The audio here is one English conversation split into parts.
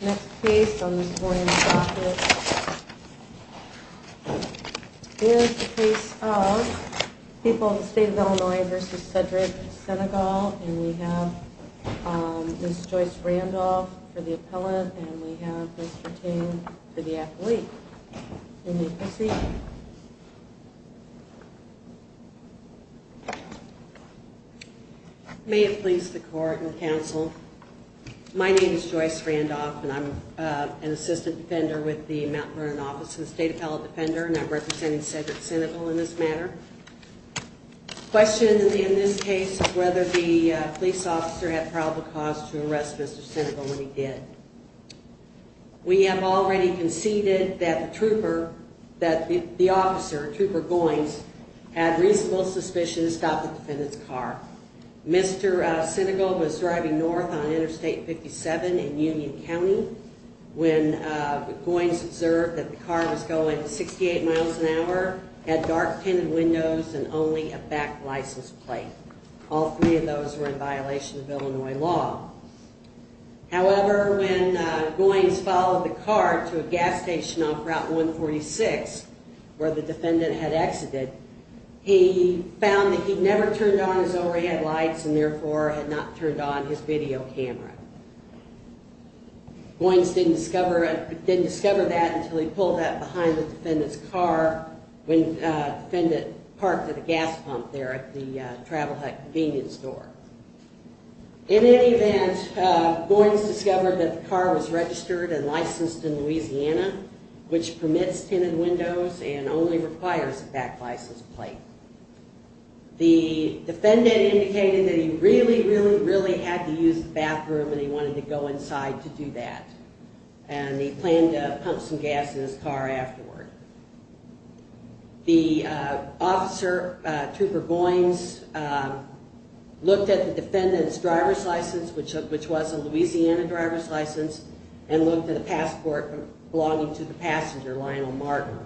Next case on this morning's docket is the case of people of the state of Illinois v. Sedgwick v. Sinegal and we have Ms. Joyce Randolph for the appellant and we have Mr. Ting for the athlete. You may proceed. Joyce Randolph May it please the court and counsel, my name is Joyce Randolph and I'm an assistant defender with the Mount Vernon office of the State Appellate Defender and I'm representing Sedgwick Sinegal in this matter. The question in this case is whether the police officer had probable cause to arrest Mr. Sinegal when he did. We have already conceded that the trooper, that the officer, Trooper Goines, had reasonable suspicion to stop the defendant's car. Mr. Sinegal was driving north on Interstate 57 in Union County when Goines observed that the car was going 68 miles an hour, had dark tinted windows and only a back license plate. All three of those were in violation of Illinois law. However, when Goines followed the car to a gas station off Route 146 where the defendant had exited, he found that he never turned on his overhead lights and therefore had not turned on his video camera. Goines didn't discover that until he pulled up behind the defendant's car when the defendant parked at a gas pump there at the Travel Hut convenience store. In any event, Goines discovered that the car was registered and licensed in Louisiana, which permits tinted windows and only requires a back license plate. The defendant indicated that he really, really, really had to use the bathroom and he wanted to go inside to do that and he planned to pump some gas in his car afterward. The officer, Trooper Goines, looked at the defendant's driver's license, which was a Louisiana driver's license, and looked at a passport belonging to the passenger, Lionel Martin.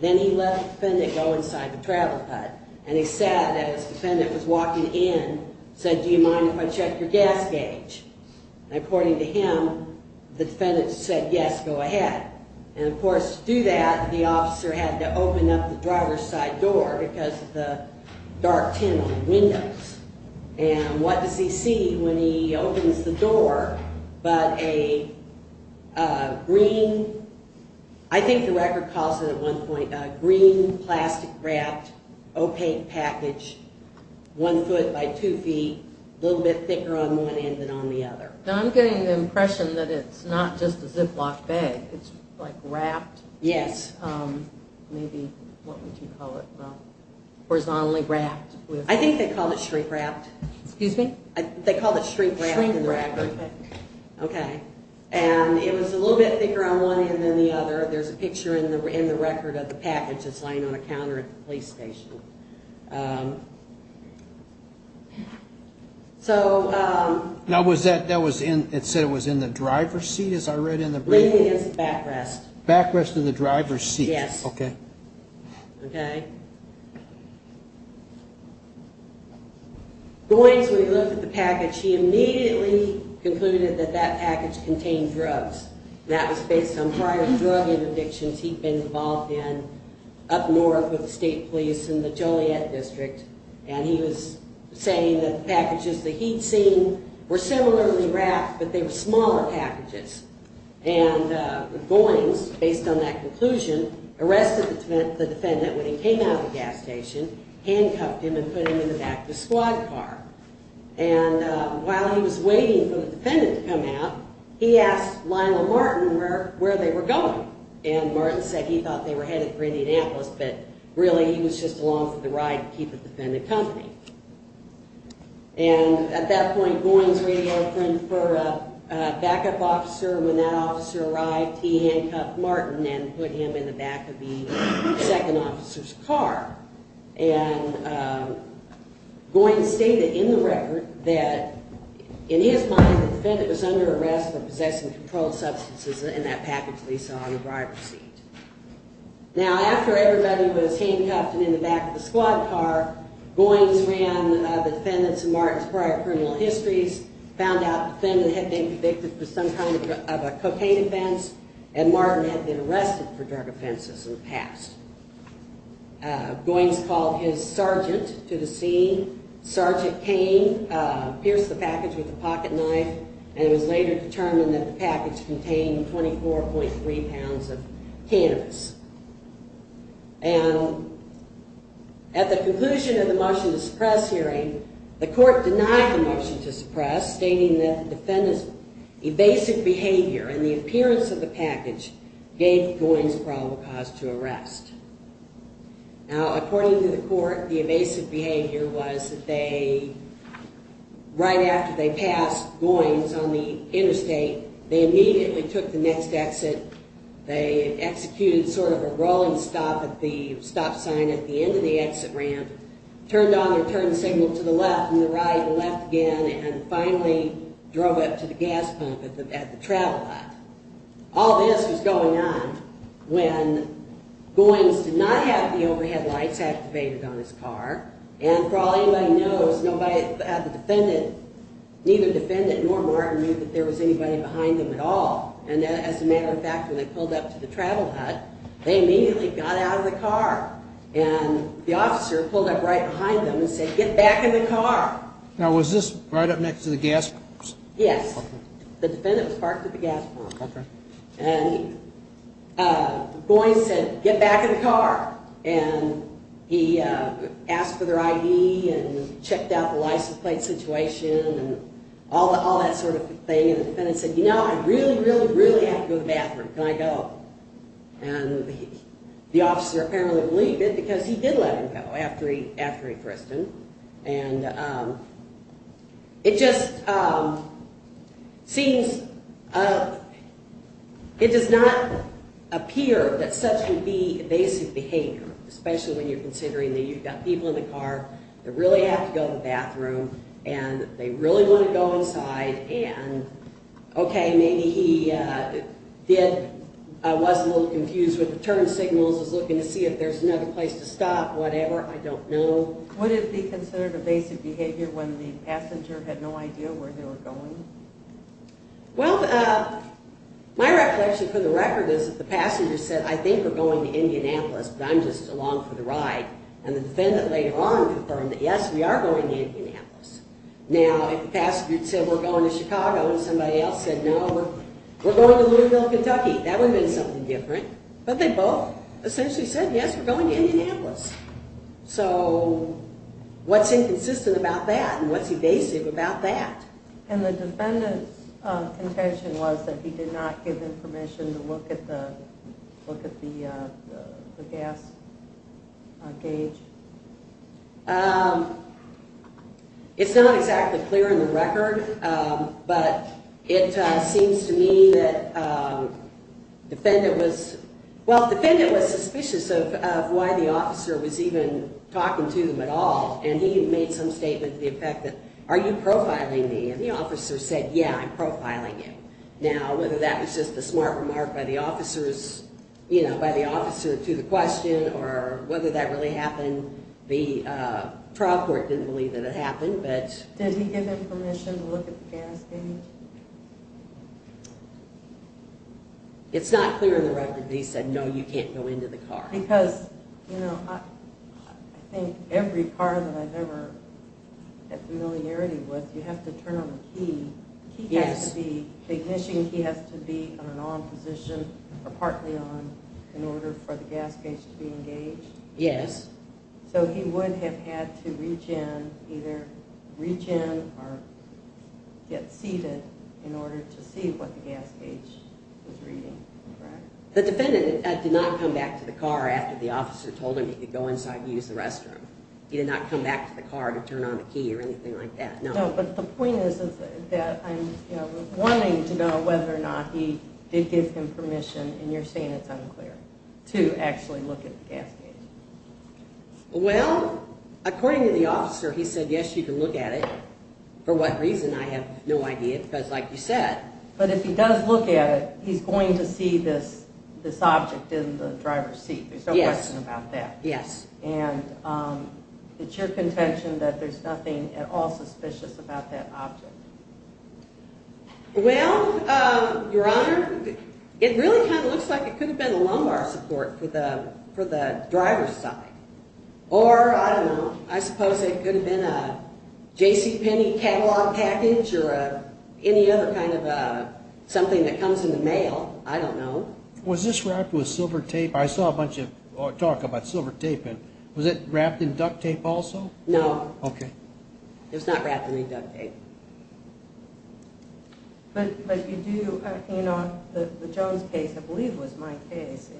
Then he let the defendant go inside the Travel Hut and he said that as the defendant was walking in, he said, do you mind if I check your gas gauge? According to him, the defendant said yes, go ahead. Of course, to do that, the officer had to open up the driver's side door because of the dark tint on the windows. What does he see when he opens the door but a green, I think the record calls it at one point, a green plastic wrapped opaque package, one foot by two feet, a little bit thicker on one end than on the other. I'm getting the impression that it's not just a Ziploc bag, it's like wrapped. Yes. Maybe, what would you call it? Horizontally wrapped. I think they called it shrink-wrapped. They called it shrink-wrapped. Shrink-wrapped. Okay. And it was a little bit thicker on one end than the other. There's a picture in the record of the package that's laying on a counter at the police station. Now was that, it said it was in the driver's seat, as I read in the brief? Laying against the backrest. Backrest of the driver's seat. Yes. Okay. Okay. Goins, when he looked at the package, he immediately concluded that that package contained drugs, and that was based on prior drug interdictions he'd been involved in up north with the state police in the Joliet District, and he was saying that the packages that he'd seen were similarly wrapped, but they were smaller packages. And Goins, based on that conclusion, arrested the defendant when he came out of the gas station, handcuffed him, and put him in the back of the squad car. And while he was waiting for the defendant to come out, he asked Lionel Martin where they were going. And Martin said he thought they were headed for Indianapolis, but really he was just along for the ride to keep the defendant company. And at that point, Goins radioed in for a backup officer. When that officer arrived, he handcuffed Martin and put him in the back of the second officer's car. And Goins stated in the record that in his mind the defendant was under arrest for possessing controlled substances in that package that he saw in the driver's seat. Now, after everybody was handcuffed and in the back of the squad car, Goins ran the defendant's and Martin's prior criminal histories, found out the defendant had been convicted for some kind of a cocaine offense, and Martin had been arrested for drug offenses in the past. Goins called his sergeant to the scene. Sergeant Kane pierced the package with a pocket knife, and it was later determined that the package contained 24.3 pounds of cannabis. And at the conclusion of the motion to suppress hearing, the court denied the motion to suppress, stating that the defendant's evasive behavior and the appearance of the package gave Goins probable cause to arrest. Now, according to the court, the evasive behavior was that they, right after they passed Goins on the interstate, they immediately took the next exit. They executed sort of a rolling stop at the stop sign at the end of the exit ramp, turned on their turn signal to the left and the right and left again, and finally drove up to the gas pump at the travel lot. All this was going on when Goins did not have the overhead lights activated on his car, and for all anybody knows, nobody had the defendant, neither defendant nor Martin, knew that there was anybody behind them at all. And as a matter of fact, when they pulled up to the travel hut, they immediately got out of the car. And the officer pulled up right behind them and said, get back in the car. Now, was this right up next to the gas pumps? Yes. The defendant was parked at the gas pump. And Goins said, get back in the car, and he asked for their ID and checked out the license plate situation and all that sort of thing. And the defendant said, you know, I really, really, really have to go to the bathroom. Can I go? And the officer apparently believed it because he did let him go after he thrusted. And it just seems, it does not appear that such would be basic behavior, especially when you're considering that you've got people in the car that really have to go to the bathroom and they really want to go inside and, okay, maybe he did, was a little confused with the turn signals, was looking to see if there's another place to stop, whatever, I don't know. So would it be considered a basic behavior when the passenger had no idea where they were going? Well, my reflection for the record is that the passenger said, I think we're going to Indianapolis, but I'm just along for the ride. And the defendant later on confirmed that, yes, we are going to Indianapolis. Now, if the passenger said we're going to Chicago and somebody else said no, we're going to Louisville, Kentucky, that would have been something different. But they both essentially said, yes, we're going to Indianapolis. So what's inconsistent about that and what's evasive about that? And the defendant's intention was that he did not give him permission to look at the gas gauge? It's not exactly clear in the record, but it seems to me that the defendant was, well, the defendant was suspicious of why the officer was even talking to him at all. And he made some statement to the effect that, are you profiling me? And the officer said, yeah, I'm profiling you. Now, whether that was just a smart remark by the officer to the question or whether that really happened, the trial court didn't believe that it happened. Did he give him permission to look at the gas gauge? It's not clear in the record that he said, no, you can't go into the car. Because, you know, I think every car that I've ever had familiarity with, you have to turn on the key. The ignition key has to be on an on position or partly on in order for the gas gauge to be engaged. Yes. So he would have had to reach in, either reach in or get seated in order to see what the gas gauge was reading, correct? The defendant did not come back to the car after the officer told him he could go inside and use the restroom. He did not come back to the car to turn on the key or anything like that, no. No, but the point is that I'm wanting to know whether or not he did give him permission, and you're saying it's unclear, to actually look at the gas gauge. Well, according to the officer, he said, yes, you can look at it. For what reason, I have no idea, because like you said. But if he does look at it, he's going to see this object in the driver's seat. There's no question about that. Yes. And it's your contention that there's nothing at all suspicious about that object? Well, Your Honor, it really kind of looks like it could have been a lumbar support for the driver's side. Or, I don't know, I suppose it could have been a JCPenney catalog package or any other kind of something that comes in the mail. I don't know. Was this wrapped with silver tape? I saw a bunch of talk about silver tape. Was it wrapped in duct tape also? No. Okay. It was not wrapped in any duct tape. But you do, you know, the Jones case, I believe, was my case.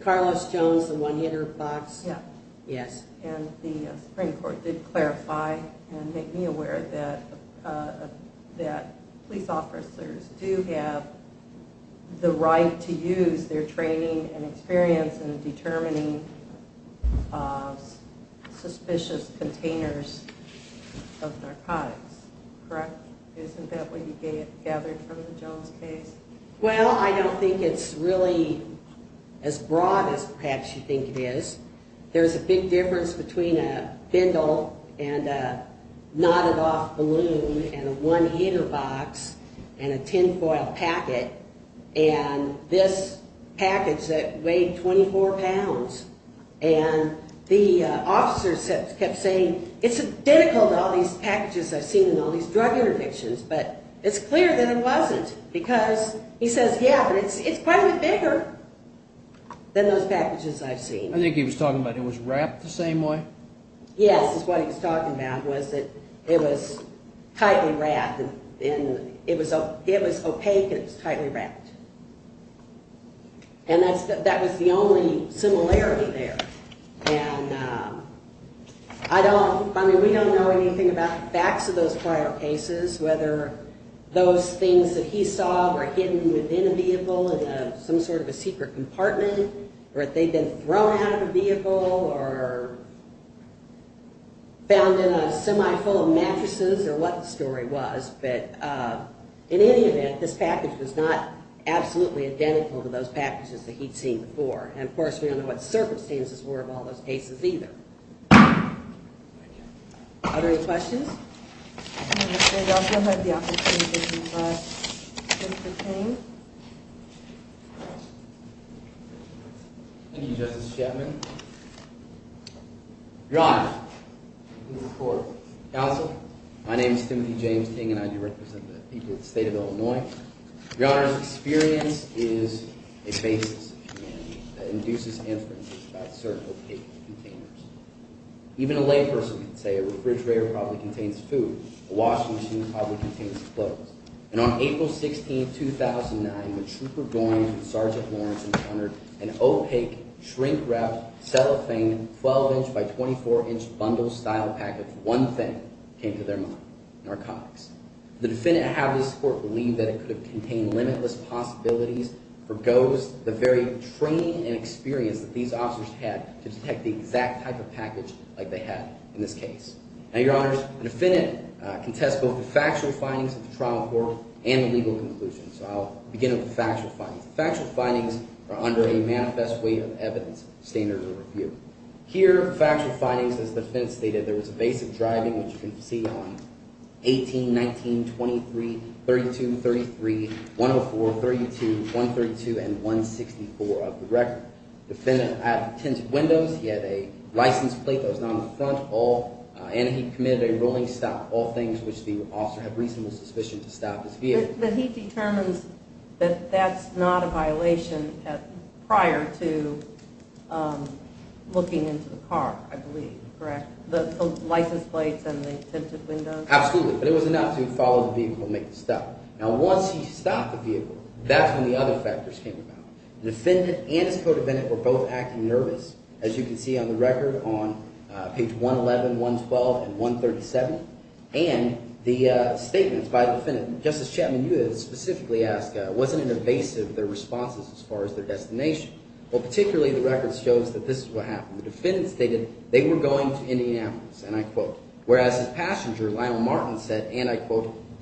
Carlos Jones, the one-hitter box? Yeah. Yes. And the Supreme Court did clarify and make me aware that police officers do have the right to use their training and experience in determining suspicious containers of narcotics. Correct? Isn't that what you gathered from the Jones case? Well, I don't think it's really as broad as perhaps you think it is. There's a big difference between a bindle and a knotted-off balloon and a one-hitter box and a tinfoil packet. And this package that weighed 24 pounds. And the officers kept saying, it's identical to all these packages I've seen in all these drug interdictions. But it's clear that it wasn't because he says, yeah, but it's quite a bit bigger than those packages I've seen. I think he was talking about it was wrapped the same way? Yes, is what he was talking about, was that it was tightly wrapped. It was opaque and it was tightly wrapped. And that was the only similarity there. I mean, we don't know anything about the facts of those prior cases, whether those things that he saw were hidden within a vehicle in some sort of a secret compartment or if they'd been thrown out of a vehicle or found in a semi-full of mattresses or what the story was. But in any event, this package was not absolutely identical to those packages that he'd seen before. And of course, we don't know what circumstances were of all those cases either. Are there any questions? I'm going to say you also have the opportunity to address Mr. Ting. Thank you, Justice Shetland. Your Honor, I'm going to report. Counsel, my name is Timothy James Ting, and I do represent the people of the state of Illinois. Your Honor's experience is a basis of humanity that induces inferences about certain opaque containers. Even a layperson can say a refrigerator probably contains food, a washing machine probably contains clothes. And on April 16, 2009, when Trooper Goines and Sergeant Lawrence encountered an opaque, shrink-wrapped, cellophane, 12-inch by 24-inch bundle-style package, one thing came to their mind, narcotics. The defendant had this court believe that it could contain limitless possibilities, foregoes the very training and experience that these officers had to detect the exact type of package like they had in this case. Now, Your Honor, the defendant contests both the factual findings of the trial court and the legal conclusions. So I'll begin with the factual findings. The factual findings are under a manifest way of evidence standard of review. Here, factual findings, as the defendant stated, there was a basic driving, which you can see on 18, 19, 23, 32, 33, 104, 32, 132, and 164 of the record. The defendant had tinted windows, he had a license plate that was not on the front, and he committed a rolling stop, all things which the officer had reasonable suspicion to stop his vehicle. But he determines that that's not a violation prior to looking into the car, I believe, correct? The license plates and the tinted windows? Absolutely, but it was enough to follow the vehicle and make the stop. Now, once he stopped the vehicle, that's when the other factors came about. The defendant and his co-defendant were both acting nervous, as you can see on the record on page 111, 112, and 137. And the statements by the defendant, Justice Chapman, you specifically asked, wasn't it evasive, their responses as far as their destination? Well, particularly the record shows that this is what happened. The defendant stated they were going to Indianapolis, and I quote.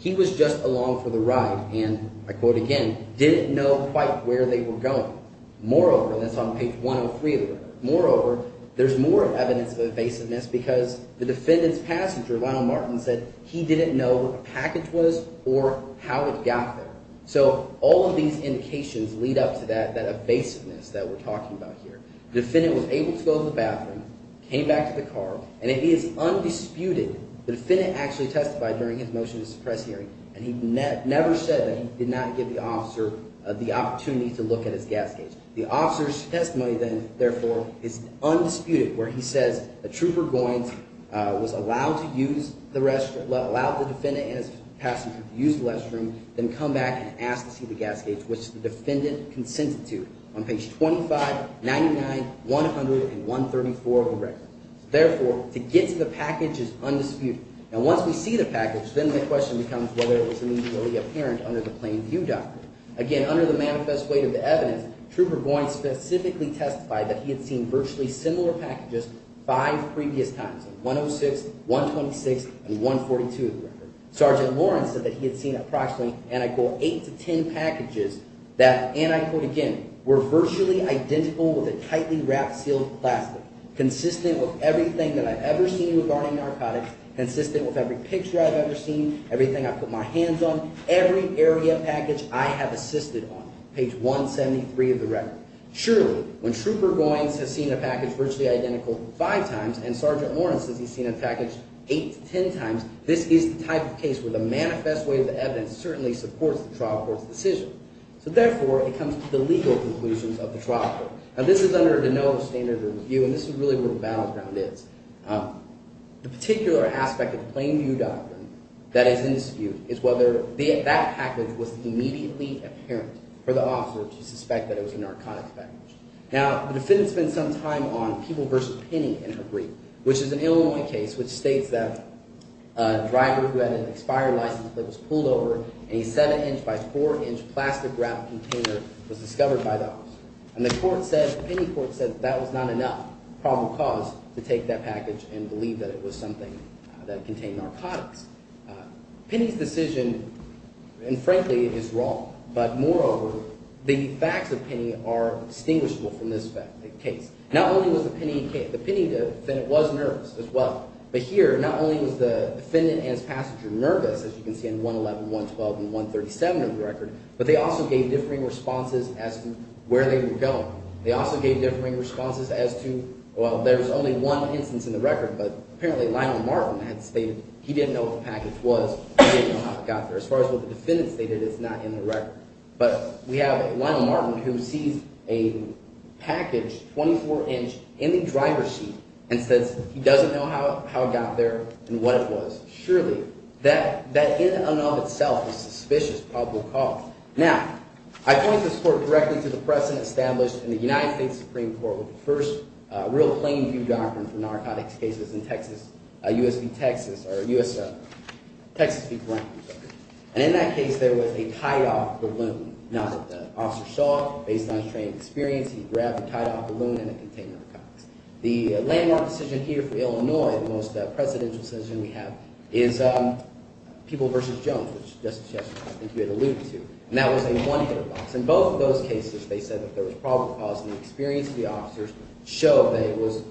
He was just along for the ride and, I quote again, didn't know quite where they were going. Moreover, and that's on page 103 of the record, moreover, there's more evidence of evasiveness because the defendant's passenger, Lionel Martin, said he didn't know what the package was or how it got there. So all of these indications lead up to that evasiveness that we're talking about here. The defendant was able to go to the bathroom, came back to the car, and it is undisputed the defendant actually testified during his motion to suppress hearing, and he never said that he did not give the officer the opportunity to look at his gas gauge. The officer's testimony then, therefore, is undisputed where he says the trooper was allowed to use the restroom, allowed the defendant and his passenger to use the restroom, then come back and ask to see the gas gauge, which the defendant consented to on page 25, 99, 100, and 134 of the record. Therefore, to get to the package is undisputed. And once we see the package, then the question becomes whether it was immediately apparent under the plain view doctrine. Again, under the manifest weight of the evidence, Trooper Boyne specifically testified that he had seen virtually similar packages five previous times, 106, 126, and 142 of the record. Sergeant Lawrence said that he had seen approximately, and I quote, eight to ten packages that, and I quote again, were virtually identical with a tightly wrapped, sealed plastic, consistent with everything that I've ever seen regarding narcotics, consistent with every picture I've ever seen, everything I've put my hands on, every area package I have assisted on, page 173 of the record. Surely, when Trooper Boyne has seen a package virtually identical five times and Sergeant Lawrence has seen a package eight to ten times, this is the type of case where the manifest weight of the evidence certainly supports the trial court's decision. So therefore, it comes to the legal conclusions of the trial court. Now, this is under the no standard of review, and this is really where the battleground is. The particular aspect of the plain view doctrine that is in dispute is whether that package was immediately apparent for the officer to suspect that it was a narcotics package. Now, the defendant spent some time on People v. Penny in her brief, which is an Illinois case which states that a driver who had an expired license plate was pulled over, and a seven-inch by four-inch plastic wrap container was discovered by the officer. And the court said – the Penny court said that was not enough probable cause to take that package and believe that it was something that contained narcotics. Penny's decision, and frankly, is wrong. But moreover, the facts of Penny are distinguishable from this case. Not only was the Penny – the Penny defendant was nervous as well, but here not only was the defendant and his passenger nervous, as you can see in 111, 112, and 137 of the record, but they also gave differing responses as to where they were going. They also gave differing responses as to – well, there's only one instance in the record, but apparently Lionel Martin had stated he didn't know what the package was. He didn't know how it got there. As far as what the defendant stated, it's not in the record. But we have Lionel Martin who sees a package, 24-inch, in the driver's seat and says he doesn't know how it got there and what it was. Surely, that in and of itself is suspicious probable cause. Now, I point this court directly to the precedent established in the United States Supreme Court with the first real plain view doctrine for narcotics cases in Texas – USP, Texas – or USL – Texas people, right? And in that case, there was a tied-off balloon. Now that the officer saw it, based on his training and experience, he grabbed the tied-off balloon and it contained narcotics. The landmark decision here for Illinois, the most precedential decision we have, is People v. Jones, which Justice Chester I think you had alluded to, and that was a one-hitter box. In both of those cases, they said that there was probable cause, and the experience of the officers showed that it was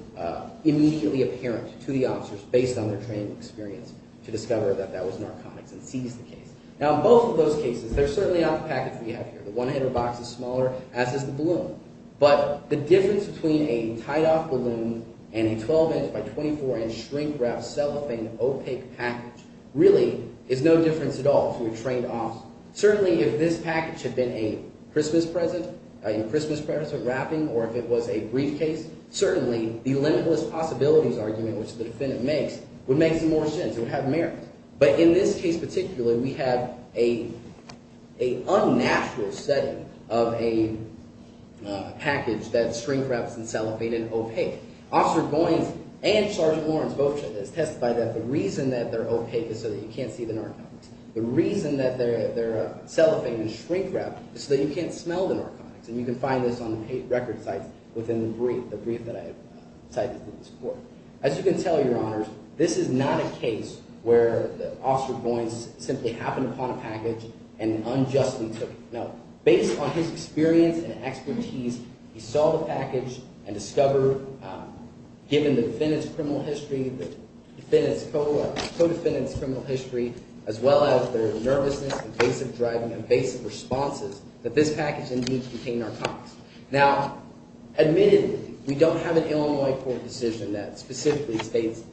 immediately apparent to the officers based on their training and experience to discover that that was narcotics and seize the case. Now, in both of those cases, they're certainly not the package we have here. The one-hitter box is smaller, as is the balloon. But the difference between a tied-off balloon and a 12-inch by 24-inch shrink-wrapped cellophane opaque package really is no difference at all if you're a trained officer. Certainly, if this package had been a Christmas present, a Christmas present wrapping, or if it was a briefcase, certainly the limitless possibilities argument, which the defendant makes, would make some more sense. It would have merit. But in this case particularly, we have an unnatural setting of a package that's shrink-wrapped and cellophane and opaque. Officer Goins and Sergeant Lawrence both testified that the reason that they're opaque is so that you can't see the narcotics. The reason that they're cellophane and shrink-wrapped is so that you can't smell the narcotics, and you can find this on the record sites within the brief, the brief that I cited in this report. As you can tell, Your Honors, this is not a case where Officer Goins simply happened upon a package and unjustly took it. Now, based on his experience and expertise, he saw the package and discovered, given the defendant's criminal history, the defendant's co-defendant's criminal history, as well as their nervousness and basic driving and basic responses, that this package indeed contained narcotics. Now, admittedly, we don't have an Illinois court decision that specifically states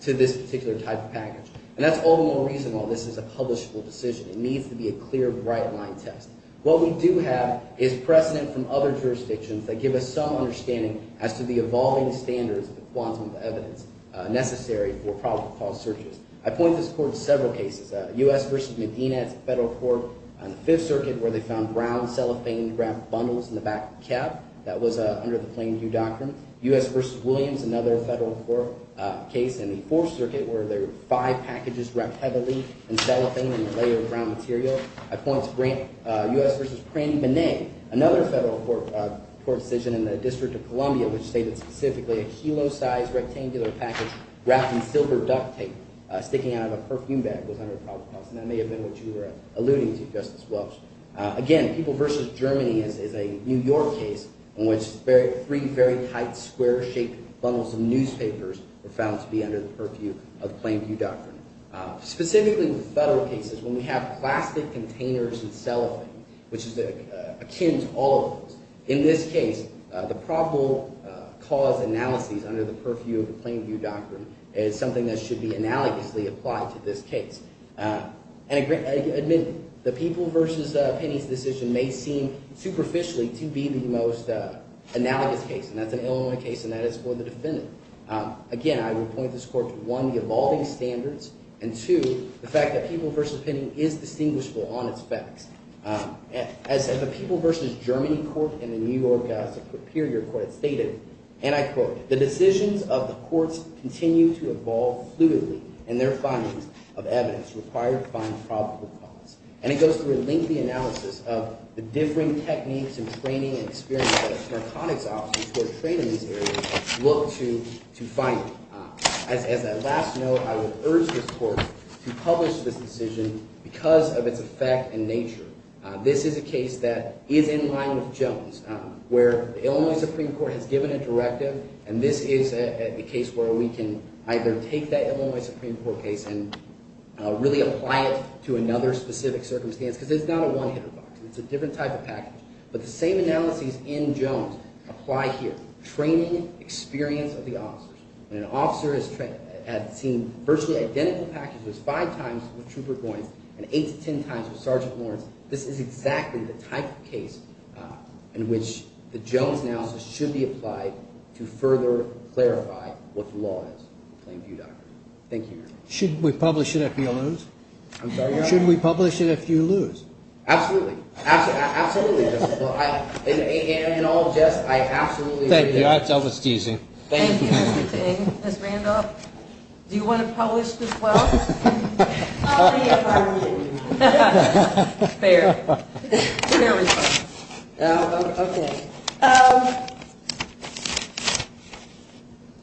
to this particular type of package, and that's all the more reason why this is a publishable decision. It needs to be a clear, bright-line test. What we do have is precedent from other jurisdictions that give us some understanding as to the evolving standards of the quantum of evidence necessary for probable cause searches. I point this court to several cases. U.S. v. Medina, it's a federal court on the Fifth Circuit where they found brown cellophane-wrapped bundles in the back cab. That was under the Plain View Doctrine. U.S. v. Williams, another federal court case in the Fourth Circuit where there were five packages wrapped heavily in cellophane and a layer of brown material. I point to U.S. v. Praney, another federal court decision in the District of Columbia which stated specifically a kilo-sized rectangular package wrapped in silver duct tape sticking out of a perfume bag was under probable cause, and that may have been what you were alluding to, Justice Welch. Again, People v. Germany is a New York case in which three very tight square-shaped bundles of newspapers were found to be under the purview of Plain View Doctrine. Specifically, the federal cases when we have plastic containers in cellophane, which is akin to all of those. In this case, the probable cause analyses under the purview of the Plain View Doctrine is something that should be analogously applied to this case. And admit, the People v. Penny's decision may seem superficially to be the most analogous case, and that's an Illinois case, and that is for the defendant. Again, I would point this court to, one, the evolving standards, and two, the fact that People v. Penny is distinguishable on its facts. As the People v. Germany court in the New York Superior Court stated, and I quote, the decisions of the courts continue to evolve fluidly in their findings of evidence required to find probable cause. And it goes through a lengthy analysis of the differing techniques and training and experience that our narcotics officers who are trained in these areas look to find. As a last note, I would urge this court to publish this decision because of its effect and nature. This is a case that is in line with Jones, where the Illinois Supreme Court has given a directive, and this is a case where we can either take that Illinois Supreme Court case and really apply it to another specific circumstance. Because it's not a one-hitter box. It's a different type of package. But the same analyses in Jones apply here. It's a training experience of the officers, and an officer has seen virtually identical packages five times with Trooper Goines and eight to ten times with Sergeant Lawrence. This is exactly the type of case in which the Jones analysis should be applied to further clarify what the law is. Thank you, Your Honor. Should we publish it if you lose? I'm sorry, Your Honor? Should we publish it if you lose? Absolutely. Absolutely, Your Honor. In all justice, I absolutely agree. Thank you. That was teasing. Thank you, Mr. Ting. Ms. Randolph, do you want to publish this as well? I'll read it if I lose. Fair. Fair response.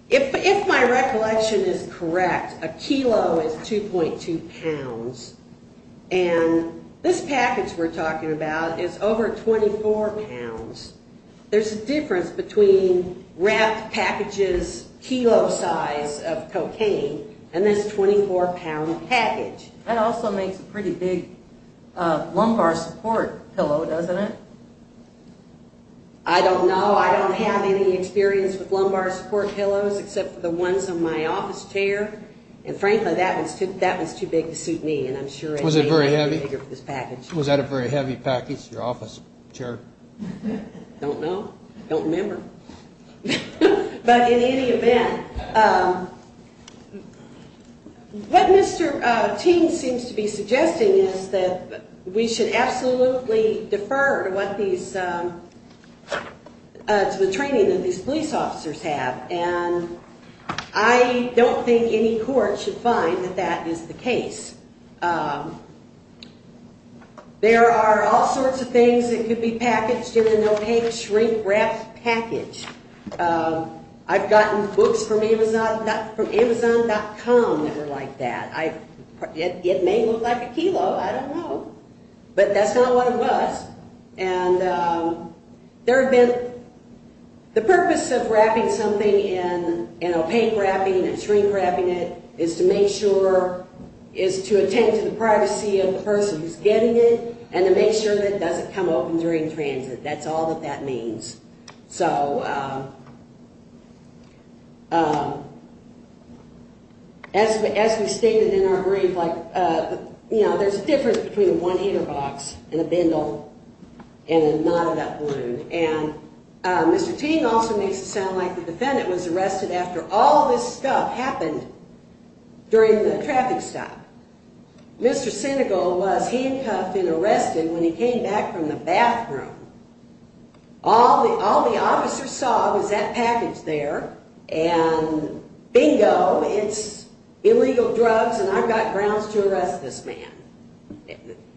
Okay. If my recollection is correct, a kilo is 2.2 pounds, and this package we're talking about is over 24 pounds. There's a difference between RAP package's kilo size of cocaine and this 24-pound package. That also makes a pretty big lumbar support pillow, doesn't it? I don't know. I don't have any experience with lumbar support pillows except for the ones on my office chair, and frankly, that was too big to suit me. Was it very heavy? Was that a very heavy package, your office chair? I don't know. I don't remember. But in any event, what Mr. Ting seems to be suggesting is that we should absolutely defer to the training that these police officers have, and I don't think any court should find that that is the case. There are all sorts of things that could be packaged in an opaque shrink-wrapped package. I've gotten books from Amazon.com that were like that. It may look like a kilo. I don't know. But that's not what it was. The purpose of wrapping something in opaque wrapping and shrink-wrapping it is to attend to the privacy of the person who's getting it and to make sure that it doesn't come open during transit. That's all that that means. So as we stated in our brief, there's a difference between one heater box and a bundle and a knot of that balloon. And Mr. Ting also makes it sound like the defendant was arrested after all this stuff happened during the traffic stop. Mr. Sinegal was handcuffed and arrested when he came back from the bathroom. All the officers saw was that package there, and bingo, it's illegal drugs, and I've got grounds to arrest this man.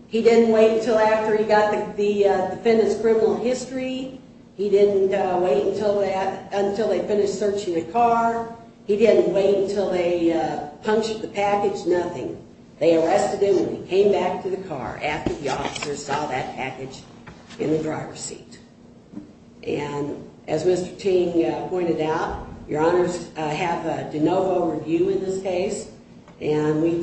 He didn't wait until after he got the defendant's criminal history. He didn't wait until they finished searching the car. He didn't wait until they punched the package, nothing. They arrested him when he came back to the car after the officers saw that package in the driver's seat. And as Mr. Ting pointed out, your honors have a de novo review in this case, and we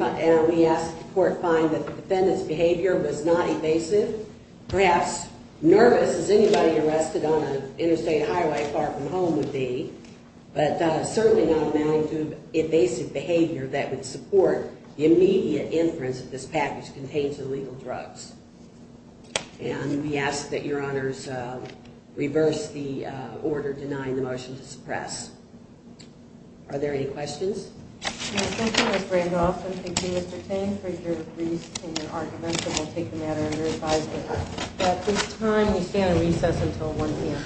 asked the court to find that the defendant's behavior was not evasive. Perhaps nervous as anybody arrested on an interstate highway far from home would be, but certainly not amounting to evasive behavior that would support the immediate inference that this package contains illegal drugs. And we ask that your honors reverse the order denying the motion to suppress. Are there any questions? Thank you, Ms. Randolph, and thank you, Mr. Ting, for your briefs and your arguments, and we'll take the matter under advisement. At this time, we stand on recess until 1 p.m.